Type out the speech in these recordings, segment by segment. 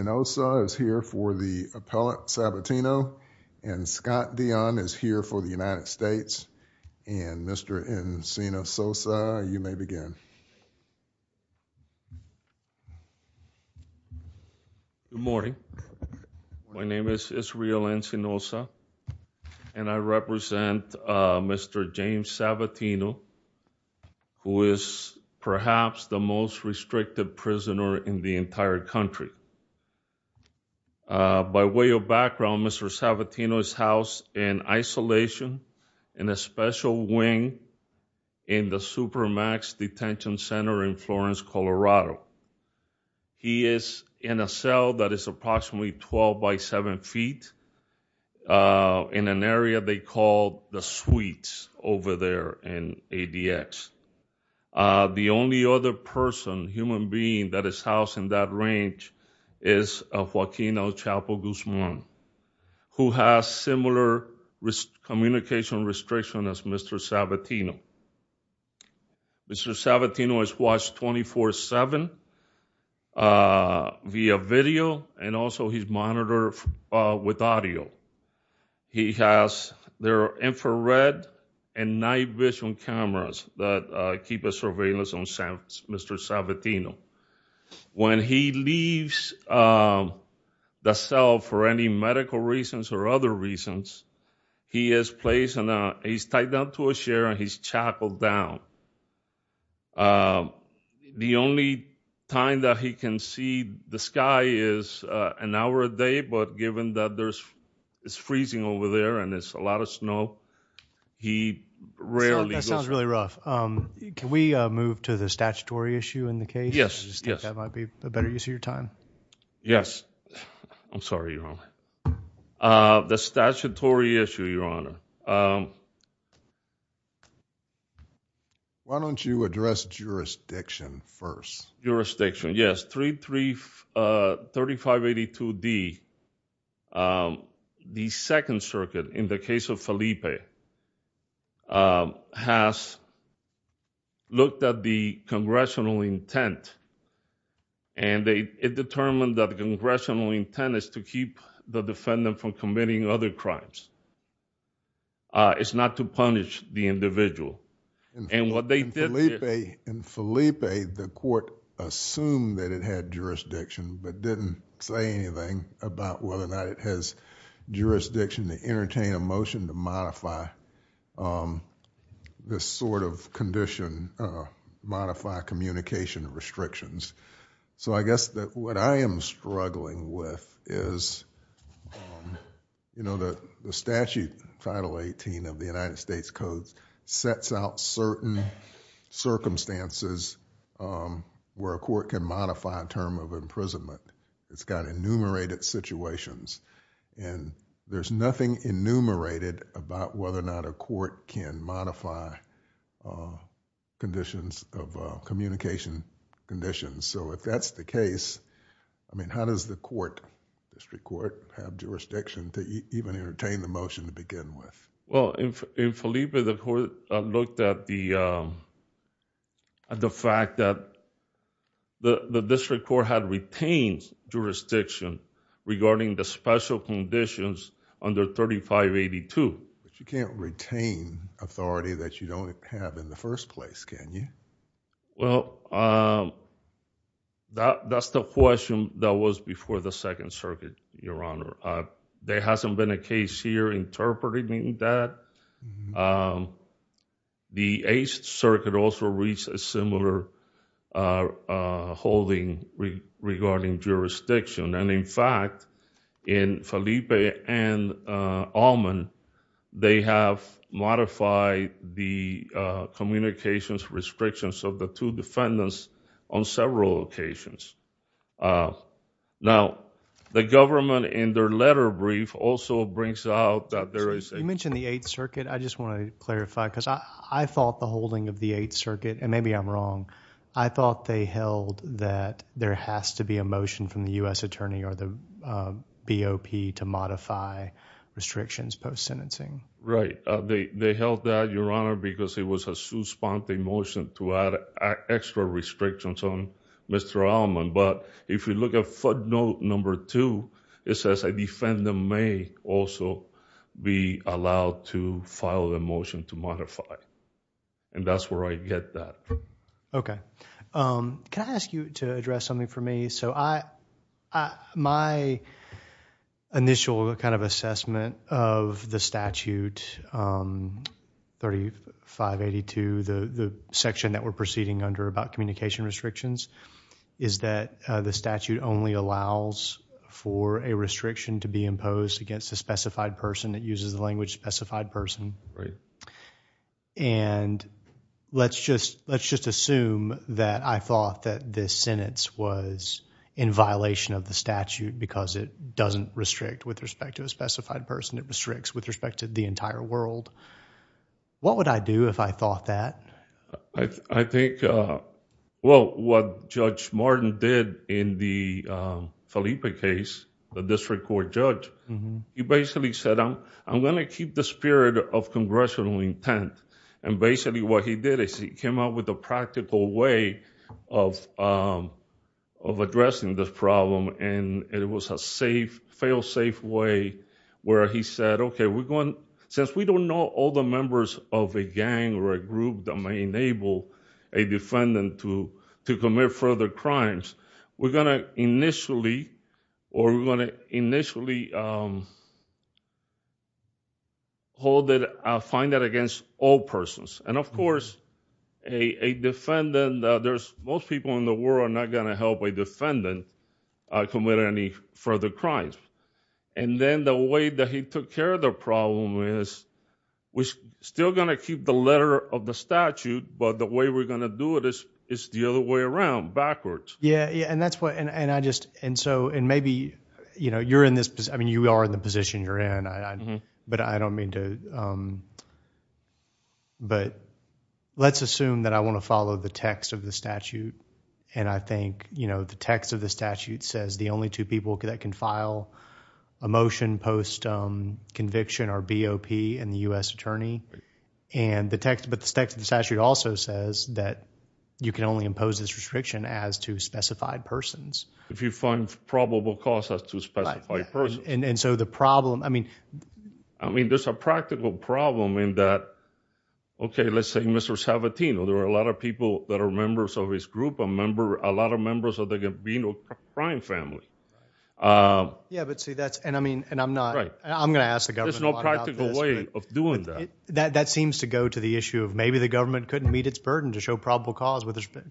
and also is here for the appellate Sabatino and Scott Dion is here for the United States and Mr. Encino Sosa, you may begin Good morning, my name is Israel Encino Sosa and I represent Mr. James Sabatino who is perhaps the most restricted prisoner in the By way of background, Mr. Sabatino is housed in isolation in a special wing in the Supermax Detention Center in Florence, Colorado. He is in a cell that is approximately 12 by 7 feet in an area they call the suites over there in ADX. The only other person, human being that is housed in that range is a Joaquino Chapo Guzman who has similar communication restriction as Mr. Sabatino. Mr. Sabatino is watched 24-7 via video and also he's monitored with audio. He has their infrared and night vision cameras that keep a surveillance on him, Mr. Sabatino. When he leaves the cell for any medical reasons or other reasons, he is placed in a, he's tied down to a chair and he's chackled down. The only time that he can see the sky is an hour a day but given that there's, it's freezing over there and it's a lot of snow, he rarely... That sounds really rough. Can we move to the statutory issue in the case? Yes, yes. I think that might be a better use of your time. Yes. I'm sorry, Your Honor. The statutory issue, Your Honor. Why don't you address jurisdiction first? Jurisdiction, yes. 33582D, the Second Circuit in the case of Felipe has looked at the congressional intent and it determined that the congressional intent is to keep the defendant from committing other crimes. It's not to punish the individual and what they did... In Felipe, the court assumed that it had jurisdiction but didn't say anything about whether or not it has jurisdiction to entertain a motion to modify this sort of condition, modify communication restrictions. I guess that what I am struggling with is the statute, Title 18 of the United States Codes sets out certain circumstances where a court can modify a term of imprisonment. It's got enumerated situations and there's nothing enumerated about whether or not a court can modify conditions of communication So if that's the case, I mean, how does the court, the district court, have jurisdiction to even entertain the motion to begin with? Well, in Felipe, the court looked at the fact that the district court had retained jurisdiction regarding the special conditions under 3582. But you can't retain authority that you don't have in the first place, can you? Well, that's the question that was before the Second Circuit, Your Honor. There hasn't been a case here interpreting that. The Eighth Circuit also reached a similar holding regarding jurisdiction and, in fact, in Felipe and Allman, they have modified the communications restrictions of the two defendants on several occasions. Now, the government in their letter brief also brings out that there is... You mentioned the Eighth Circuit. I just want to clarify because I thought the holding of the Eighth Circuit, and maybe I'm wrong, I thought they held that there has to be a motion from the U.S. Attorney or the BOP to modify restrictions post-sentencing. Right. They held that, Your Honor, because it was a suspending motion to add extra restrictions on Mr. Allman. But if you look at footnote number two, it says a defendant may also be allowed to file a motion to modify. And that's where I get that. Okay. Can I ask you to address something for me? So my initial kind of assessment of the statute, 3582, the section that we're proceeding under about communication restrictions, is that the statute only allows for a restriction to be imposed against a specified person that uses the language specified person. Right. And let's just assume that I thought that this sentence was in violation of the statute because it doesn't restrict with respect to a specified person. It restricts with respect to the entire world. What would I do if I thought that? I think, well, what Judge Martin did in the case of Congressional intent, and basically what he did is he came up with a practical way of addressing this problem. And it was a fail-safe way where he said, okay, since we don't know all the members of a gang or a group that may enable a defendant to commit further crimes, we're going to initially or we're going to initially hold it, find it against all persons. And of course, a defendant, there's most people in the world are not going to help a defendant commit any further crimes. And then the way that he took care of the problem is, we're still going to keep the letter of the statute, but the way we're going to do it is the other way around, backwards. Yeah, and that's what, and I just, and so, and maybe, you know, you're in this, I mean, you are in the position you're in, but I don't mean to, but let's assume that I want to follow the text of the statute. And I think, you know, the text of the statute says the only two people that can file a motion post conviction are BOP and the U.S. Attorney. And the text, but the text of the statute also says that you can only impose this restriction as to specified persons. If you find probable cause as to specified persons. And so, the problem, I mean, I mean, there's a practical problem in that, okay, let's say Mr. Sabatino, there are a lot of people that are members of his group, a member, a lot of members of the convenal crime family. Yeah, but see, that's, and I mean, and I'm not, I'm going to ask the government a lot about this. There's no practical way of doing that. That seems to go to the issue of maybe the government couldn't meet its burden to show probable cause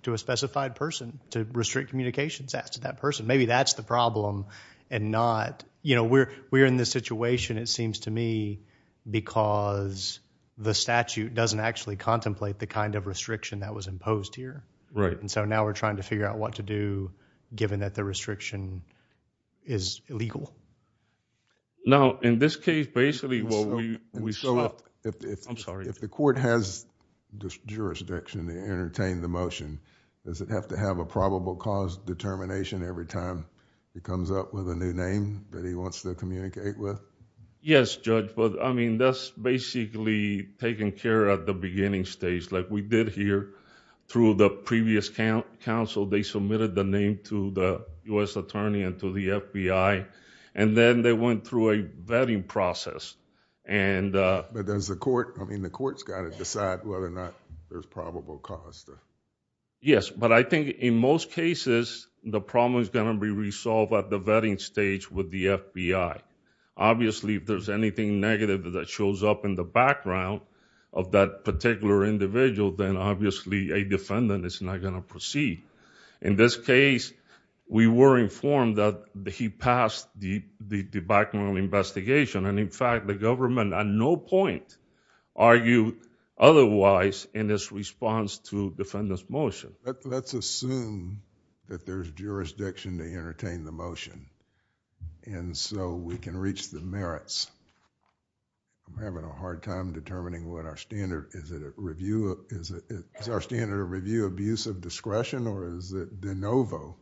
to a specified person to restrict communications as to that person. Maybe that's the problem and not, you know, we're in this situation, it seems to me, because the statute doesn't actually contemplate the kind of restriction that was imposed here. Right. And so now we're trying to figure out what to do given that the restriction is illegal. Now, in this case, basically what we saw, I'm sorry, if the court has this jurisdiction to entertain the motion, does it have to have a probable cause determination every time it comes up with a new name that he wants to communicate with? Yes, Judge, but I mean, that's basically taking care of the beginning stage, like we did here through the previous counsel, they submitted the name to the U.S. attorney and to the FBI, and then they went through a vetting process. But does the court, I mean, the court's got to decide whether or not there's probable cause there. Yes, but I think in most cases, the problem is going to be resolved at the vetting stage with the FBI. Obviously, if there's anything negative that shows up in the background of that particular individual, then obviously a defendant is not going to proceed. In this case, we were informed that he passed the background investigation, and in fact, the government at no point argued otherwise in its response to defendant's motion. Let's assume that there's jurisdiction to entertain the motion, and so we can reach the merits. I'm having a hard time determining what our standard, is it a review, is it our standard of review abuse of discretion or is it de novo?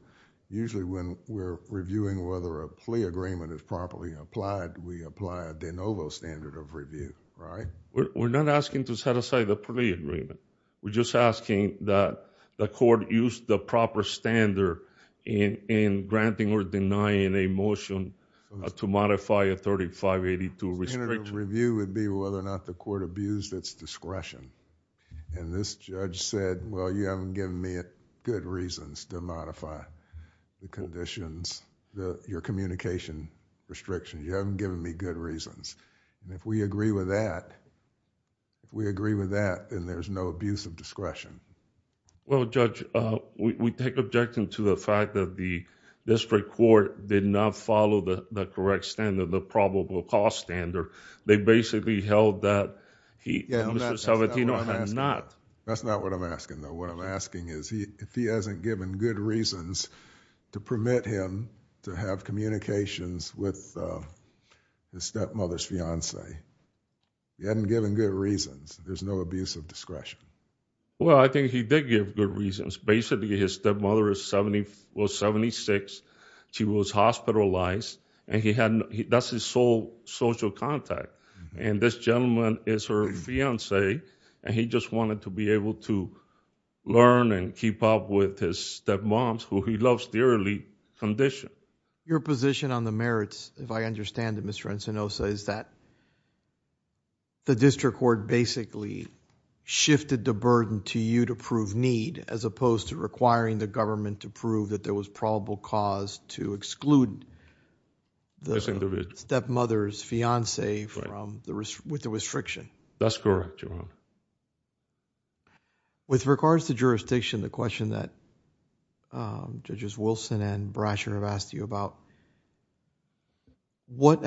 Usually when we're reviewing whether a plea agreement is properly applied, we apply a de novo standard of review, right? We're not asking to set aside a plea agreement. We're just asking that the court use the proper standard in granting or denying a motion to abuse its discretion. This judge said, well, you haven't given me good reasons to modify the conditions, your communication restrictions. You haven't given me good reasons. If we agree with that, if we agree with that, then there's no abuse of discretion. Well, Judge, we take objection to the fact that the district court did not follow the correct standard, the probable cause standard. They basically held that he, Mr. Salvatino, had not. That's not what I'm asking, though. What I'm asking is, if he hasn't given good reasons to permit him to have communications with his stepmother's fiance, he hadn't given good reasons, there's no abuse of discretion. Well, I think he did give good reasons. Basically, his stepmother was 76. She was hospitalized. That's his sole social contact. This gentleman is her fiance, and he just wanted to be able to learn and keep up with his stepmoms, who he loves dearly, condition. Your position on the merits, if I understand it, Mr. Encinosa, is that the district court basically shifted the burden to you to prove need, as opposed to requiring the government to prove that there was probable cause to exclude the stepmother's fiance with the restriction. That's correct, Your Honor. With regards to jurisdiction, the question that Judges Wilson and Brasher have asked you about, what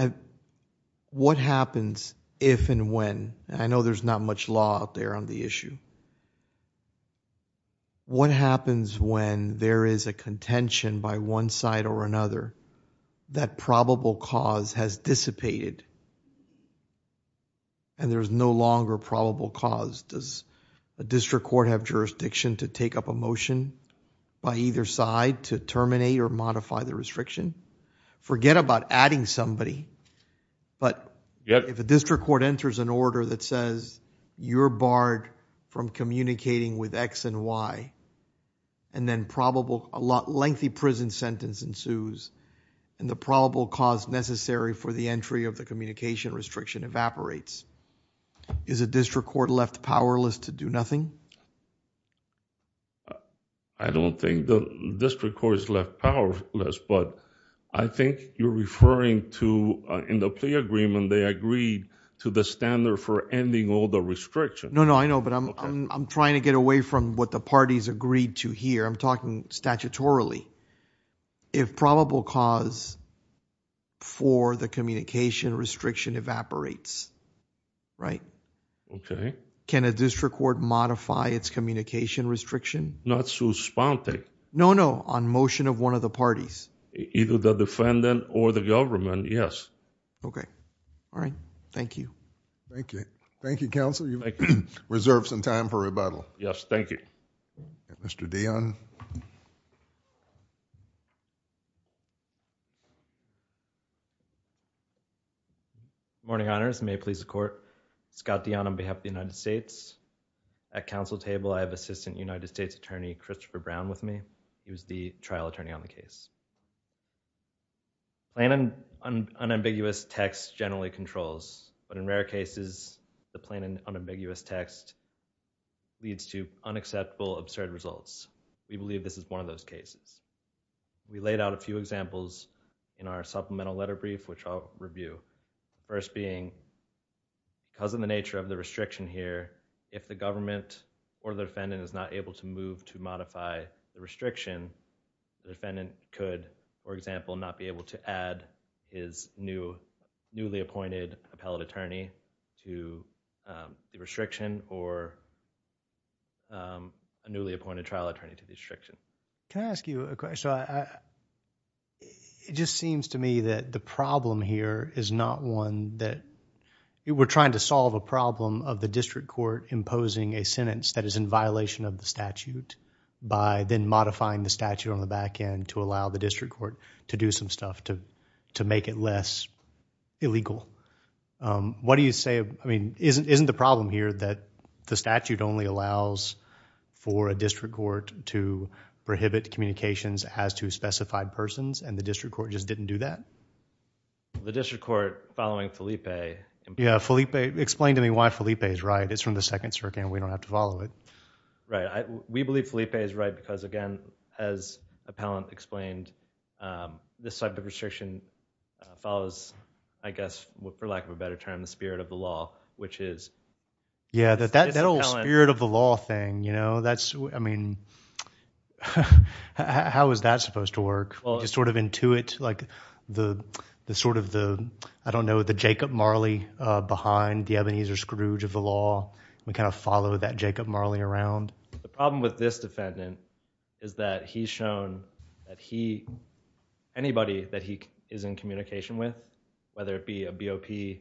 happens if and when? I know there's not much law out there on the issue. What happens when there is a contention by one side or another that probable cause has dissipated, and there's no longer probable cause? Does a district court have jurisdiction to take up a motion by either side to terminate or modify the restriction? Forget about adding somebody, but if a district court enters an order that says you're barred from communicating with X and Y, and then a lengthy prison sentence ensues, and the probable cause necessary for the entry of the communication restriction evaporates, is a district court left powerless to do nothing? I don't think the district court is left powerless, but I think you're referring to, in the plea agreement, they agreed to the standard for ending all the restrictions. No, no, I know, but I'm trying to get away from what the parties agreed to here. I'm talking statutorily. If probable cause for the communication restriction evaporates, right? Okay. Can a district court modify its communication restriction? Not suspended. No, no, on motion of one of the parties. Either the defendant or the government, yes. Okay. All right. Thank you. Thank you. Thank you, counsel. You've reserved some time for rebuttal. Yes, thank you. Mr. Dionne. Good morning, honors. May it please the court. Scott Dionne on behalf of the United States. At counsel table, I have Assistant United States Attorney Christopher Brown with me. He was the trial attorney on the case. Plain and unambiguous text generally controls, but in rare cases, the plain and unambiguous text leads to unacceptable, absurd results. We believe this is one of those cases. We laid out a few examples in our supplemental letter brief, which I'll review. First being, because of the nature of the restriction here, if the government or the defendant is not able to move to modify the restriction, the defendant could, for example, not be able to add his newly appointed appellate attorney to the restriction or a newly appointed trial attorney to the restriction. Can I ask you a question? It just seems to me that the problem here is not one that... we're trying to solve a problem of the district court imposing a sentence that is in violation of the statute by then modifying the statute on the back end to allow the district court to do some stuff to make it less illegal. What do you say... I mean, isn't the problem here that the statute only allows for a district court to prohibit communications as to specified persons and the district court just didn't do that? The district court following Felipe... Yeah, Felipe. Explain to me why Felipe is right. It's from the Second Circuit and we don't have to follow it. Right. We believe Felipe is right because, again, as Appellant explained, this type of restriction follows, I guess, for lack of a better term, the spirit of the law, which is... Yeah, that old spirit of the law thing, you know, that's... I mean, how is that supposed to work? You just sort of intuit, like, the sort of the, I don't know, the Jacob Marley behind the Ebenezer Scrooge of the law. We kind of follow that Jacob Marley around. The problem with this defendant is that he's shown that he... anybody that he is in communication with, whether it be a BOP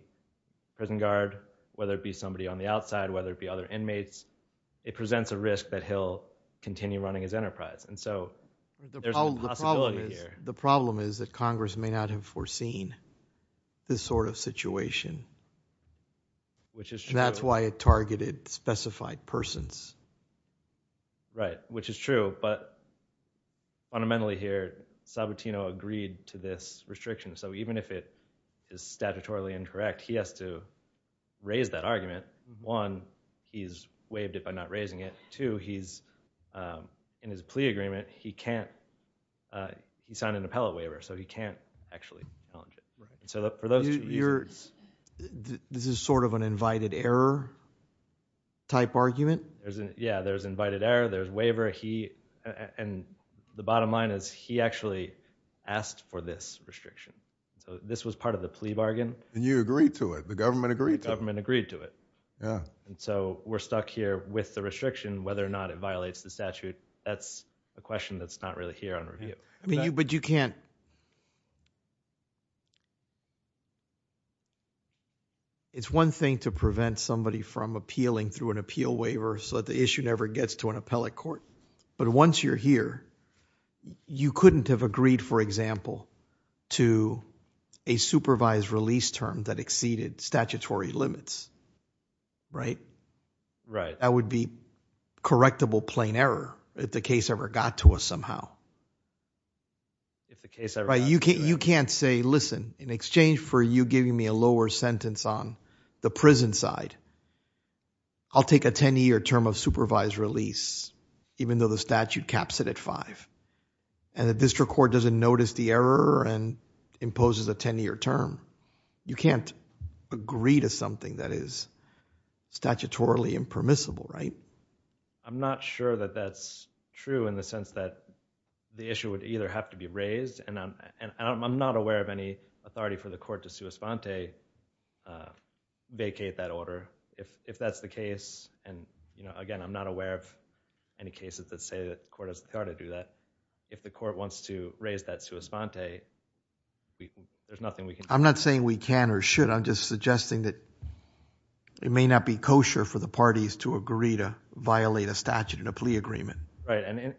prison guard, whether it be somebody on the outside, whether it be other inmates, it presents a risk that he'll continue running his enterprise. So, there's a possibility here. The problem is that Congress may not have foreseen this sort of situation. Which is true. And that's why it targeted specified persons. Right, which is true, but fundamentally here, Sabatino agreed to this restriction. So, even if it is statutorily incorrect, he has to raise that argument. One, he's waived it by not raising it. Two, he's, in his plea agreement, he can't... he signed an appellate waiver, so he can't actually challenge it. Right. So, for those two reasons... You're... this is sort of an invited error type argument? Yeah, there's invited error, there's waiver, he... and the bottom line is he actually asked for this restriction. So, this was part of the plea bargain. And you agreed to it. The government agreed to it. The government agreed to it. Yeah. And so, we're stuck here with the restriction, whether or not it violates the statute. That's a question that's not really here on review. I mean, but you can't... It's one thing to prevent somebody from appealing through an appeal waiver, so that the issue never gets to an appellate court. But once you're here, you couldn't have agreed, for example, to a supervised release term that exceeded statutory limits, right? Right. That would be correctable plain error, if the case ever got to us somehow. If the case ever got to you, right? You can't say, listen, in exchange for you giving me a lower sentence on the prison side, I'll take a 10-year term of supervised release, even though the statute caps it at five. And the district court doesn't notice the error and imposes a 10-year term. You can't agree to something that is statutorily impermissible, right? I'm not sure that that's true, in the sense that the issue would either have to be raised, and I'm not aware of any authority for the court to sua sponte, vacate that order, if that's the case. And again, I'm not aware of any cases that say that the court has the to raise that sua sponte. There's nothing we can do. I'm not saying we can or should. I'm just suggesting that it may not be kosher for the parties to agree to violate a statute in a plea agreement. Right. And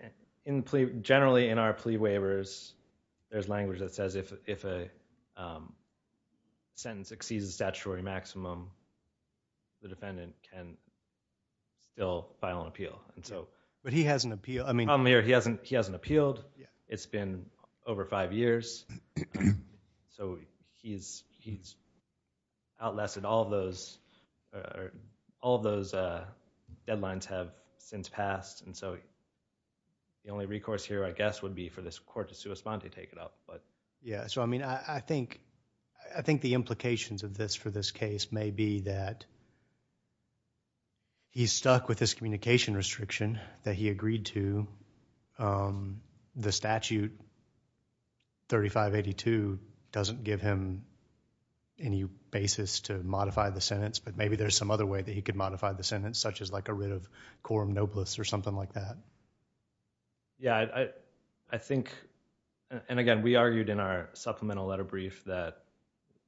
generally, in our plea waivers, there's language that says if a sentence exceeds the statutory maximum, the defendant can still file an appeal. But he hasn't appealed. The problem here, he hasn't appealed. It's been over five years. So he's outlasted all those deadlines have since passed. And so the only recourse here, I guess, would be for this court to sua sponte to take it up. Yeah. So I mean, I think the implications of this for this case may be that he's stuck with this communication restriction that he agreed to. The statute 3582 doesn't give him any basis to modify the sentence. But maybe there's some other way that he could modify the sentence, such as like a writ of quorum noblis or something like that. Yeah, I think and again, we argued in our supplemental letter brief that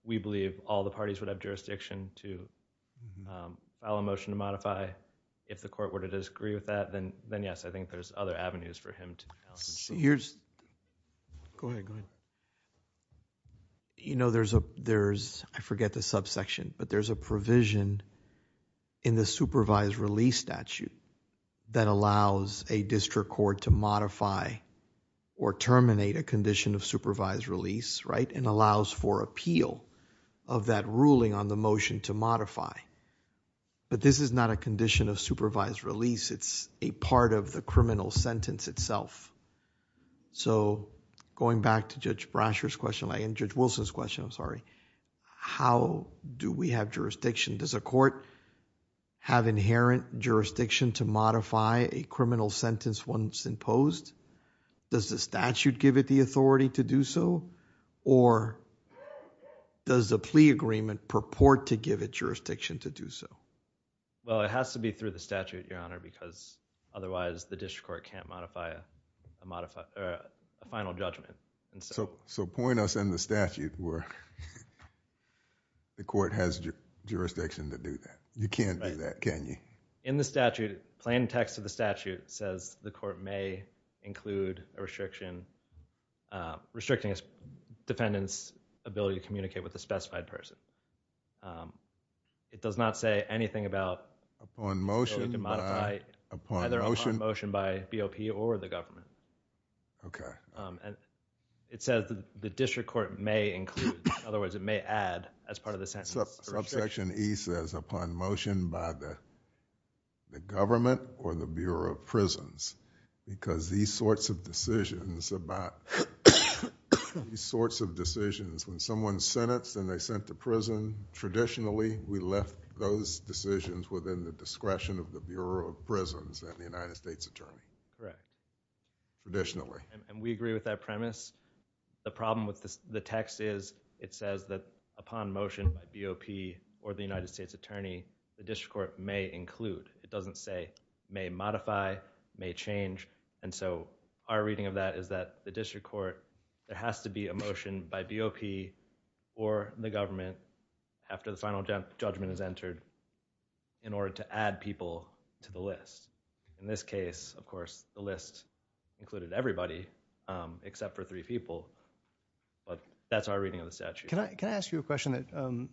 we believe all the parties would have jurisdiction to file a motion to modify. If the court were to disagree with that, then yes, I think there's other avenues for him to. Here's, go ahead, go ahead. You know, there's, I forget the subsection, but there's a provision in the supervised release statute that allows a district court to modify or terminate a of that ruling on the motion to modify. But this is not a condition of supervised release. It's a part of the criminal sentence itself. So going back to Judge Brasher's question and Judge Wilson's question, I'm sorry, how do we have jurisdiction? Does a court have inherent jurisdiction to modify a criminal sentence once imposed? Does the statute give it the authority to do so? Or does the plea agreement purport to give it jurisdiction to do so? Well, it has to be through the statute, Your Honor, because otherwise the district court can't modify a final judgment. So point us in the statute where the court has jurisdiction to do that. You can't do that, can you? In the statute, plain text of the statute says the court may include a restriction, restricting a defendant's ability to communicate with a specified person. It does not say anything about... Upon motion by...... ability to modify, either upon motion by BOP or the government. Okay. It says the district court may include, in other words, it may add as part of the sentence. Subsection E says upon motion by the government or the Bureau of Prisons, because these sorts of decisions about... these sorts of decisions, when someone's sentenced and they're sent to prison, traditionally we left those decisions within the discretion of the Bureau of Prisons and the United States Attorney. Correct. Traditionally. And we agree with that premise. The problem with the text is it says that upon motion by BOP or the United States Attorney, the district court may include. It doesn't say may modify, may change. And so our reading of that is that the district court, there has to be a motion by BOP or the government after the final judgment is entered in order to add people to the list. In this case, of three, except for three people. But that's our reading of the statute. Can I ask you a question that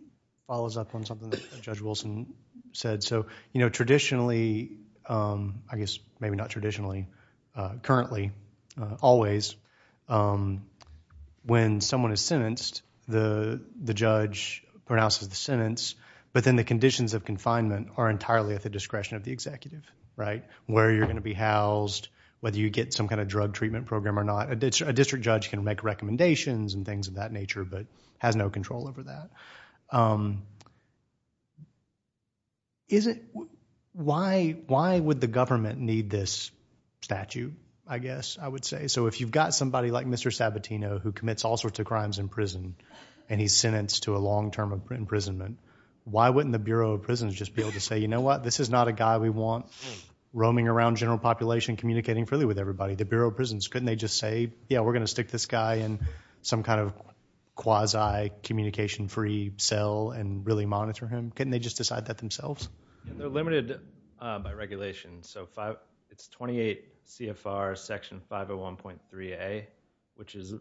follows up on something that Judge Wilson said? Traditionally, I guess maybe not traditionally, currently, always, when someone is sentenced, the judge pronounces the sentence, but then the conditions of confinement are entirely at the discretion of the executive, right? Where you're going to be housed, whether you get some kind of A district judge can make recommendations and things of that nature, but has no control over that. Why would the government need this statute, I guess I would say? So if you've got somebody like Mr. Sabatino who commits all sorts of crimes in prison, and he's sentenced to a long term imprisonment, why wouldn't the Bureau of Prisons just be able to say, you know what, this is not a guy we want roaming around general population, communicating freely with everybody. The Bureau of Prisons, couldn't they just say, yeah, we're going to stick this guy in some kind of quasi-communication-free cell and really monitor him? Couldn't they just decide that themselves? They're limited by regulation, so it's 28 CFR section 501.3A, which is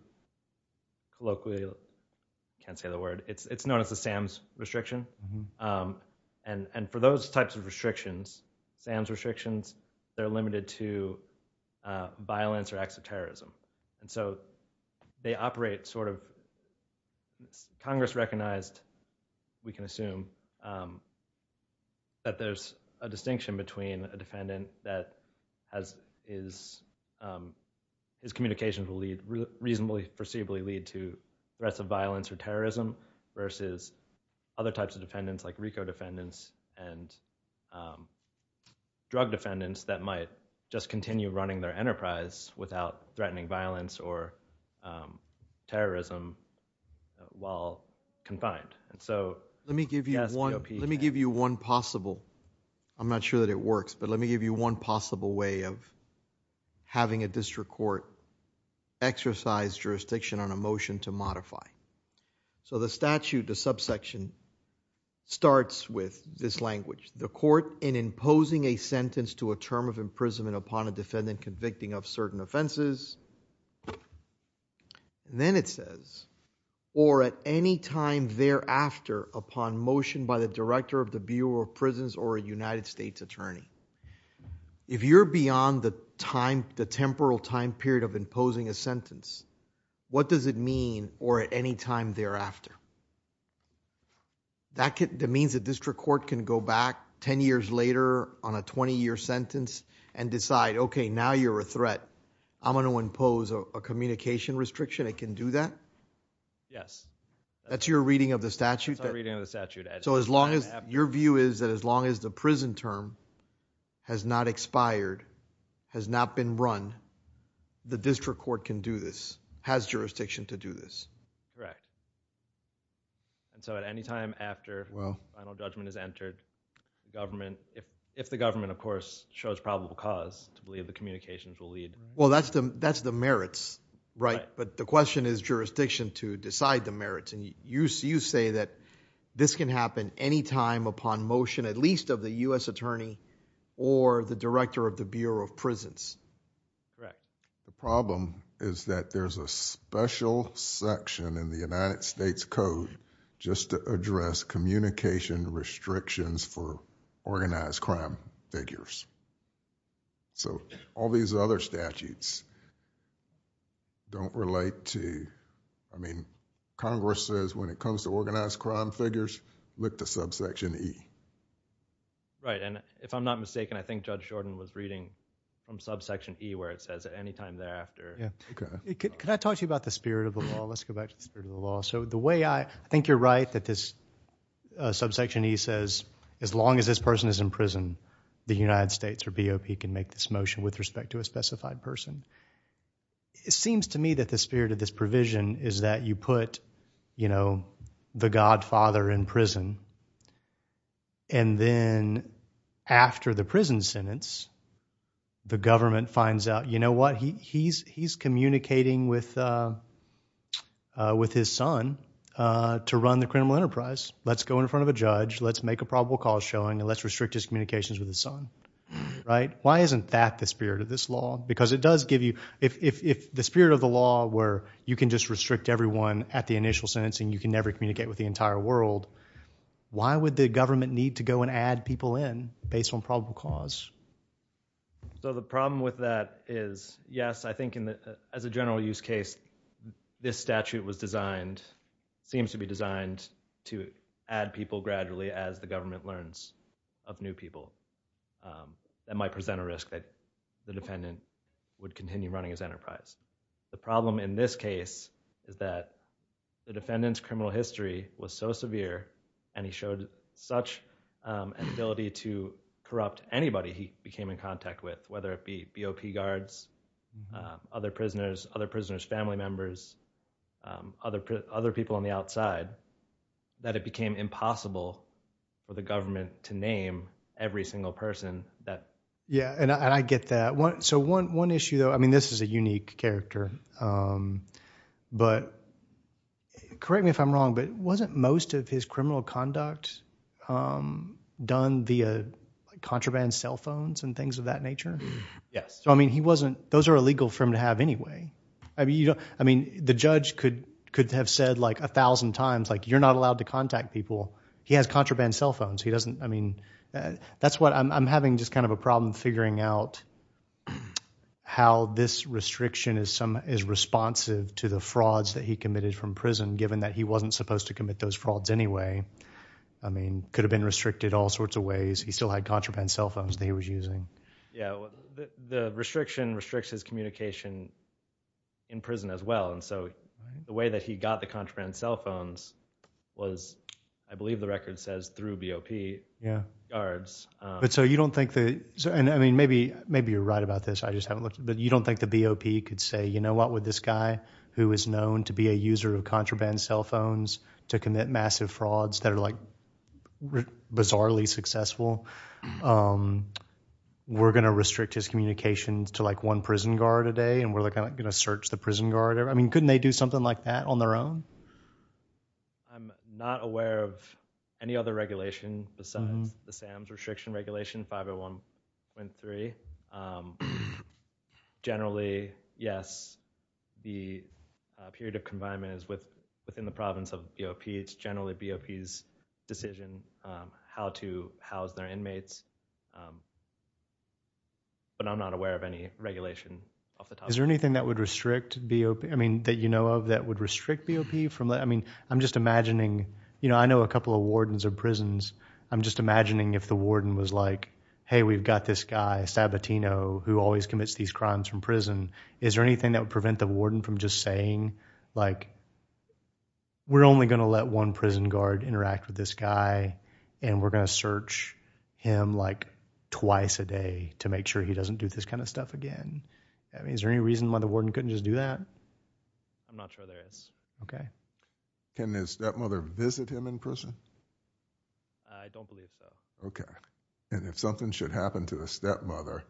colloquially, I can't say the word, it's known as the SAMS restriction, and for those types of restrictions, SAMS restrictions, they're limited to violence or acts of terrorism. Congress recognized, we can assume, that there's a distinction between a defendant that his communications will reasonably, foreseeably lead to threats of violence or terrorism, versus other types of defendants like RICO defendants and drug defendants that might just continue running their enterprise without threatening violence or terrorism while confined, and so... Let me give you one possible, I'm not sure that it works, but let me give you one possible way of having a district court exercise jurisdiction on a motion to modify. The statute, the subsection, starts with this language, the court, in imposing a sentence to a term of imprisonment upon a defendant convicting of certain offenses, then it says, or at any time thereafter upon motion by the director of the Bureau of Prisons or a United States attorney. If you're beyond the temporal time period of imposing a sentence, what does it mean, or at any time thereafter? That means a district court can go back 10 years later on a 20-year sentence and decide, okay, now you're a threat, I'm going to impose a communication restriction, it can do that? Yes. That's your reading of the statute? That's our reading of the statute. So your view is that as long as the prison term has not expired, has not been run, the district court can do this, has jurisdiction to do this? Right. And so at any time after final judgment is entered, if the government, of course, shows probable cause to believe the communications will lead... Well, that's the merits, right? But the question is jurisdiction to decide the merits. And you say that this can happen any time upon motion, at least of the U.S. attorney or the director of the Bureau of Prisons. Right. The problem is that there's a special section in the United States Code just to address communication restrictions for organized crime figures. So all these other statutes don't relate to... I mean, Congress says when it comes to organized crime figures, look to subsection E. Right. And if I'm not mistaken, I think Judge Jordan was reading from subsection E where it says at any time thereafter... Yeah. Okay. Could I talk to you about the spirit of the law? Let's go back to the spirit of the law. So the way I... I think you're right that this subsection E says as long as this person is in prison, the United States or BOP can make this motion with respect to a specified person. It seems to me that the spirit of this provision is that you put, you know, the godfather in prison. And then after the prison sentence, the government finds out, you know what, he's communicating with his son to run the criminal enterprise. Let's go in front of a judge, let's make a probable cause showing, and let's restrict his communications with his son. Right. Why isn't that the spirit of this law? Because it does give you... if the spirit of the law were you can just restrict everyone at the initial sentencing, you can never communicate with the entire world, why would the government need to go and add people in based on probable cause? So the problem with that is, yes, I think as a general use case, this statute was designed, seems to be designed, to add people gradually as the government learns of new people. That might present a risk that the defendant would continue running his enterprise. The problem in this case is that the defendant's criminal history was so severe and he showed such an ability to corrupt anybody he became in contact with, whether it be BOP guards, other prisoners, other prisoners' family members, other people on the outside, that it became impossible for the government to name every single person that... Yeah, and I get that. So one issue though, I mean this is a unique character, correct me if I'm wrong, but wasn't most of his criminal conduct done via contraband cell phones and things of that nature? Yes. So I mean he wasn't... those are illegal for him to have anyway. I mean the judge could have said like a thousand times like you're not allowed to contact people. He has contraband cell phones. He doesn't... I mean that's what... I'm having just kind of a problem figuring out how this restriction is responsive to the frauds that he committed from prison, given that he wasn't supposed to commit those frauds anyway. I mean could have been restricted all sorts of ways. He still had contraband cell phones that he was using. Yeah, the restriction restricts his communication in prison as well. And so the way that he got the contraband cell phones was, I believe the record says, through BOP guards. But so you don't think that... and I mean maybe you're right about this, I just haven't looked, but you don't think the BOP could say, you know what, with this guy who is known to be a user of contraband cell phones to commit massive frauds that are like bizarrely successful, we're going to restrict his communications to like one prison guard a day and we're going to search the prison guard. I mean couldn't they do something like that on their own? I'm not aware of any other regulation besides the SAMS restriction regulation 501.3. Generally, yes, the period of confinement is within the province of BOP. It's generally BOP's decision how to house their inmates. But I'm not aware of any regulation off the top of my head. Is there anything that would restrict BOP, I mean that you know of that would restrict BOP from... I mean I'm just imagining, you know, I know a couple of wardens of prisons. I'm just imagining if the warden was like, hey, we've got this guy Sabatino who always commits these crimes from prison. Is there anything that would prevent the warden from just saying like, we're only going to let one prison guard interact with this guy and we're going to search him like twice a day to make sure he doesn't do this kind of stuff again. I mean is there any reason why the warden couldn't just do that? I'm not sure there is. Can his stepmother visit him in prison? I don't believe so. Okay. And if something should happen to a stepmother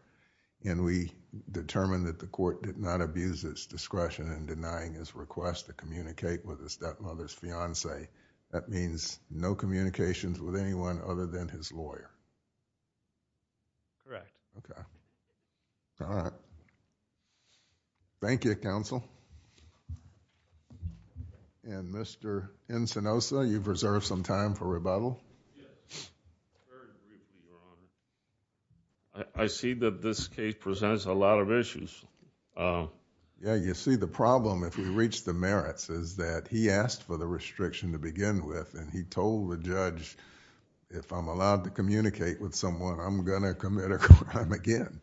and we determine that the court did not abuse its discretion in denying his request to communicate with his stepmother's fiancee, that means no communications with anyone other than his lawyer? Okay. All right. Thank you, Counsel. Thank you. And Mr. Encinosa, you've reserved some time for rebuttal. I see that this case presents a lot of issues. Yeah, you see the problem if we reach the merits is that he asked for the restriction to begin with and he told the judge, if I'm allowed to communicate with someone, I'm going to commit a crime again.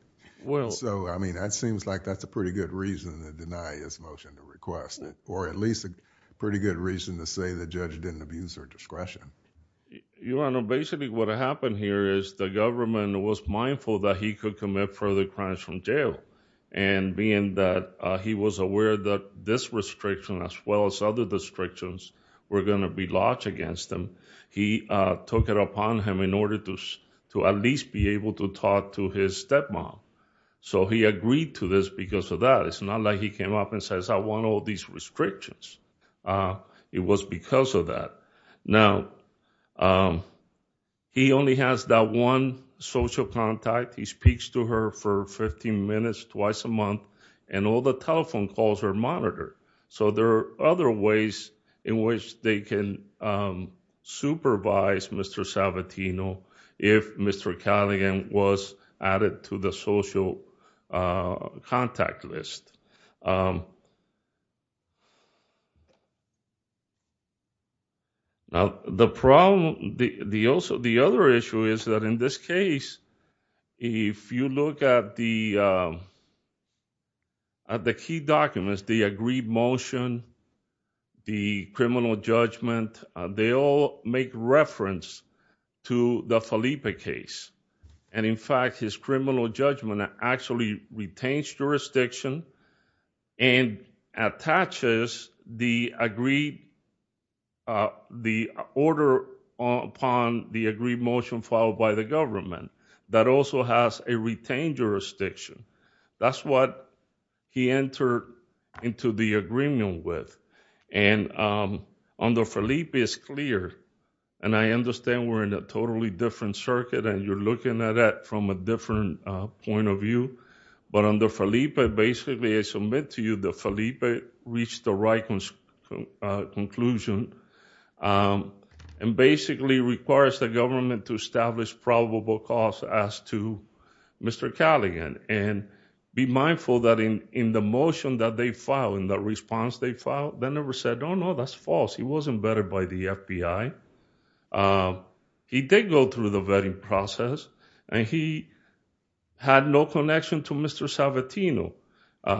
So I mean that seems like that's a pretty good reason to deny his motion to request or at least a pretty good reason to say the judge didn't abuse her discretion. Your Honor, basically what happened here is the government was mindful that he could commit further crimes from jail and being that he was aware that this restriction as well as other restrictions were going to be lodged against him, he took it upon him in order to at least be able to talk to his stepmom. So he agreed to this because of that. It's not like he came up and says, I want all these restrictions. It was because of that. Now, he only has that one social contact. He speaks to her for 15 minutes twice a month and all the telephone calls are monitored. So there are other ways in which they can supervise Mr. Salvatino if Mr. Callaghan was added to the social contact list. Now, the problem, the other issue is that in this case, if you look at the key documents, the agreed motion, the criminal judgment, they all make reference to the Felipe case. And in fact, his criminal judgment actually retains jurisdiction and attaches the order upon the agreed motion filed by the government that also has a retained jurisdiction. That's what he entered into the agreement with. And under Felipe, it's clear. And I understand we're in a totally different circuit and you're looking at it from a different point of view. But under Felipe, basically, I submit to you that Felipe reached the right conclusion and basically requires the government to establish probable cause as to Mr. Callaghan. And be mindful that in the motion that they filed, in the response they filed, they never said, oh, no, that's false. He wasn't vetted by the FBI. He did go through the vetting process and he had no connection to Mr. Salvatino.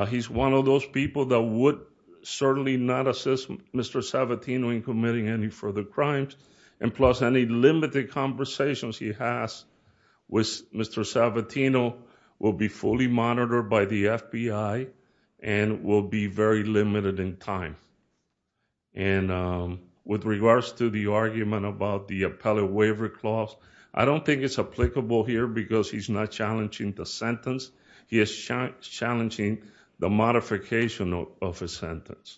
He's one of those people that would certainly not assist Mr. Salvatino in committing any further crimes. And plus, any limited conversations he has with Mr. Salvatino will be fully monitored by the FBI and will be very limited in time. And with regards to the argument about the appellate waiver clause, I don't think it's applicable here because he's not challenging the sentence. He is challenging the modification of a sentence.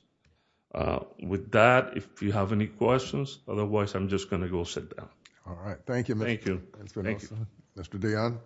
With that, if you have any questions, otherwise, I'm just going to go sit down. All right. Thank you, Mr. Nelson.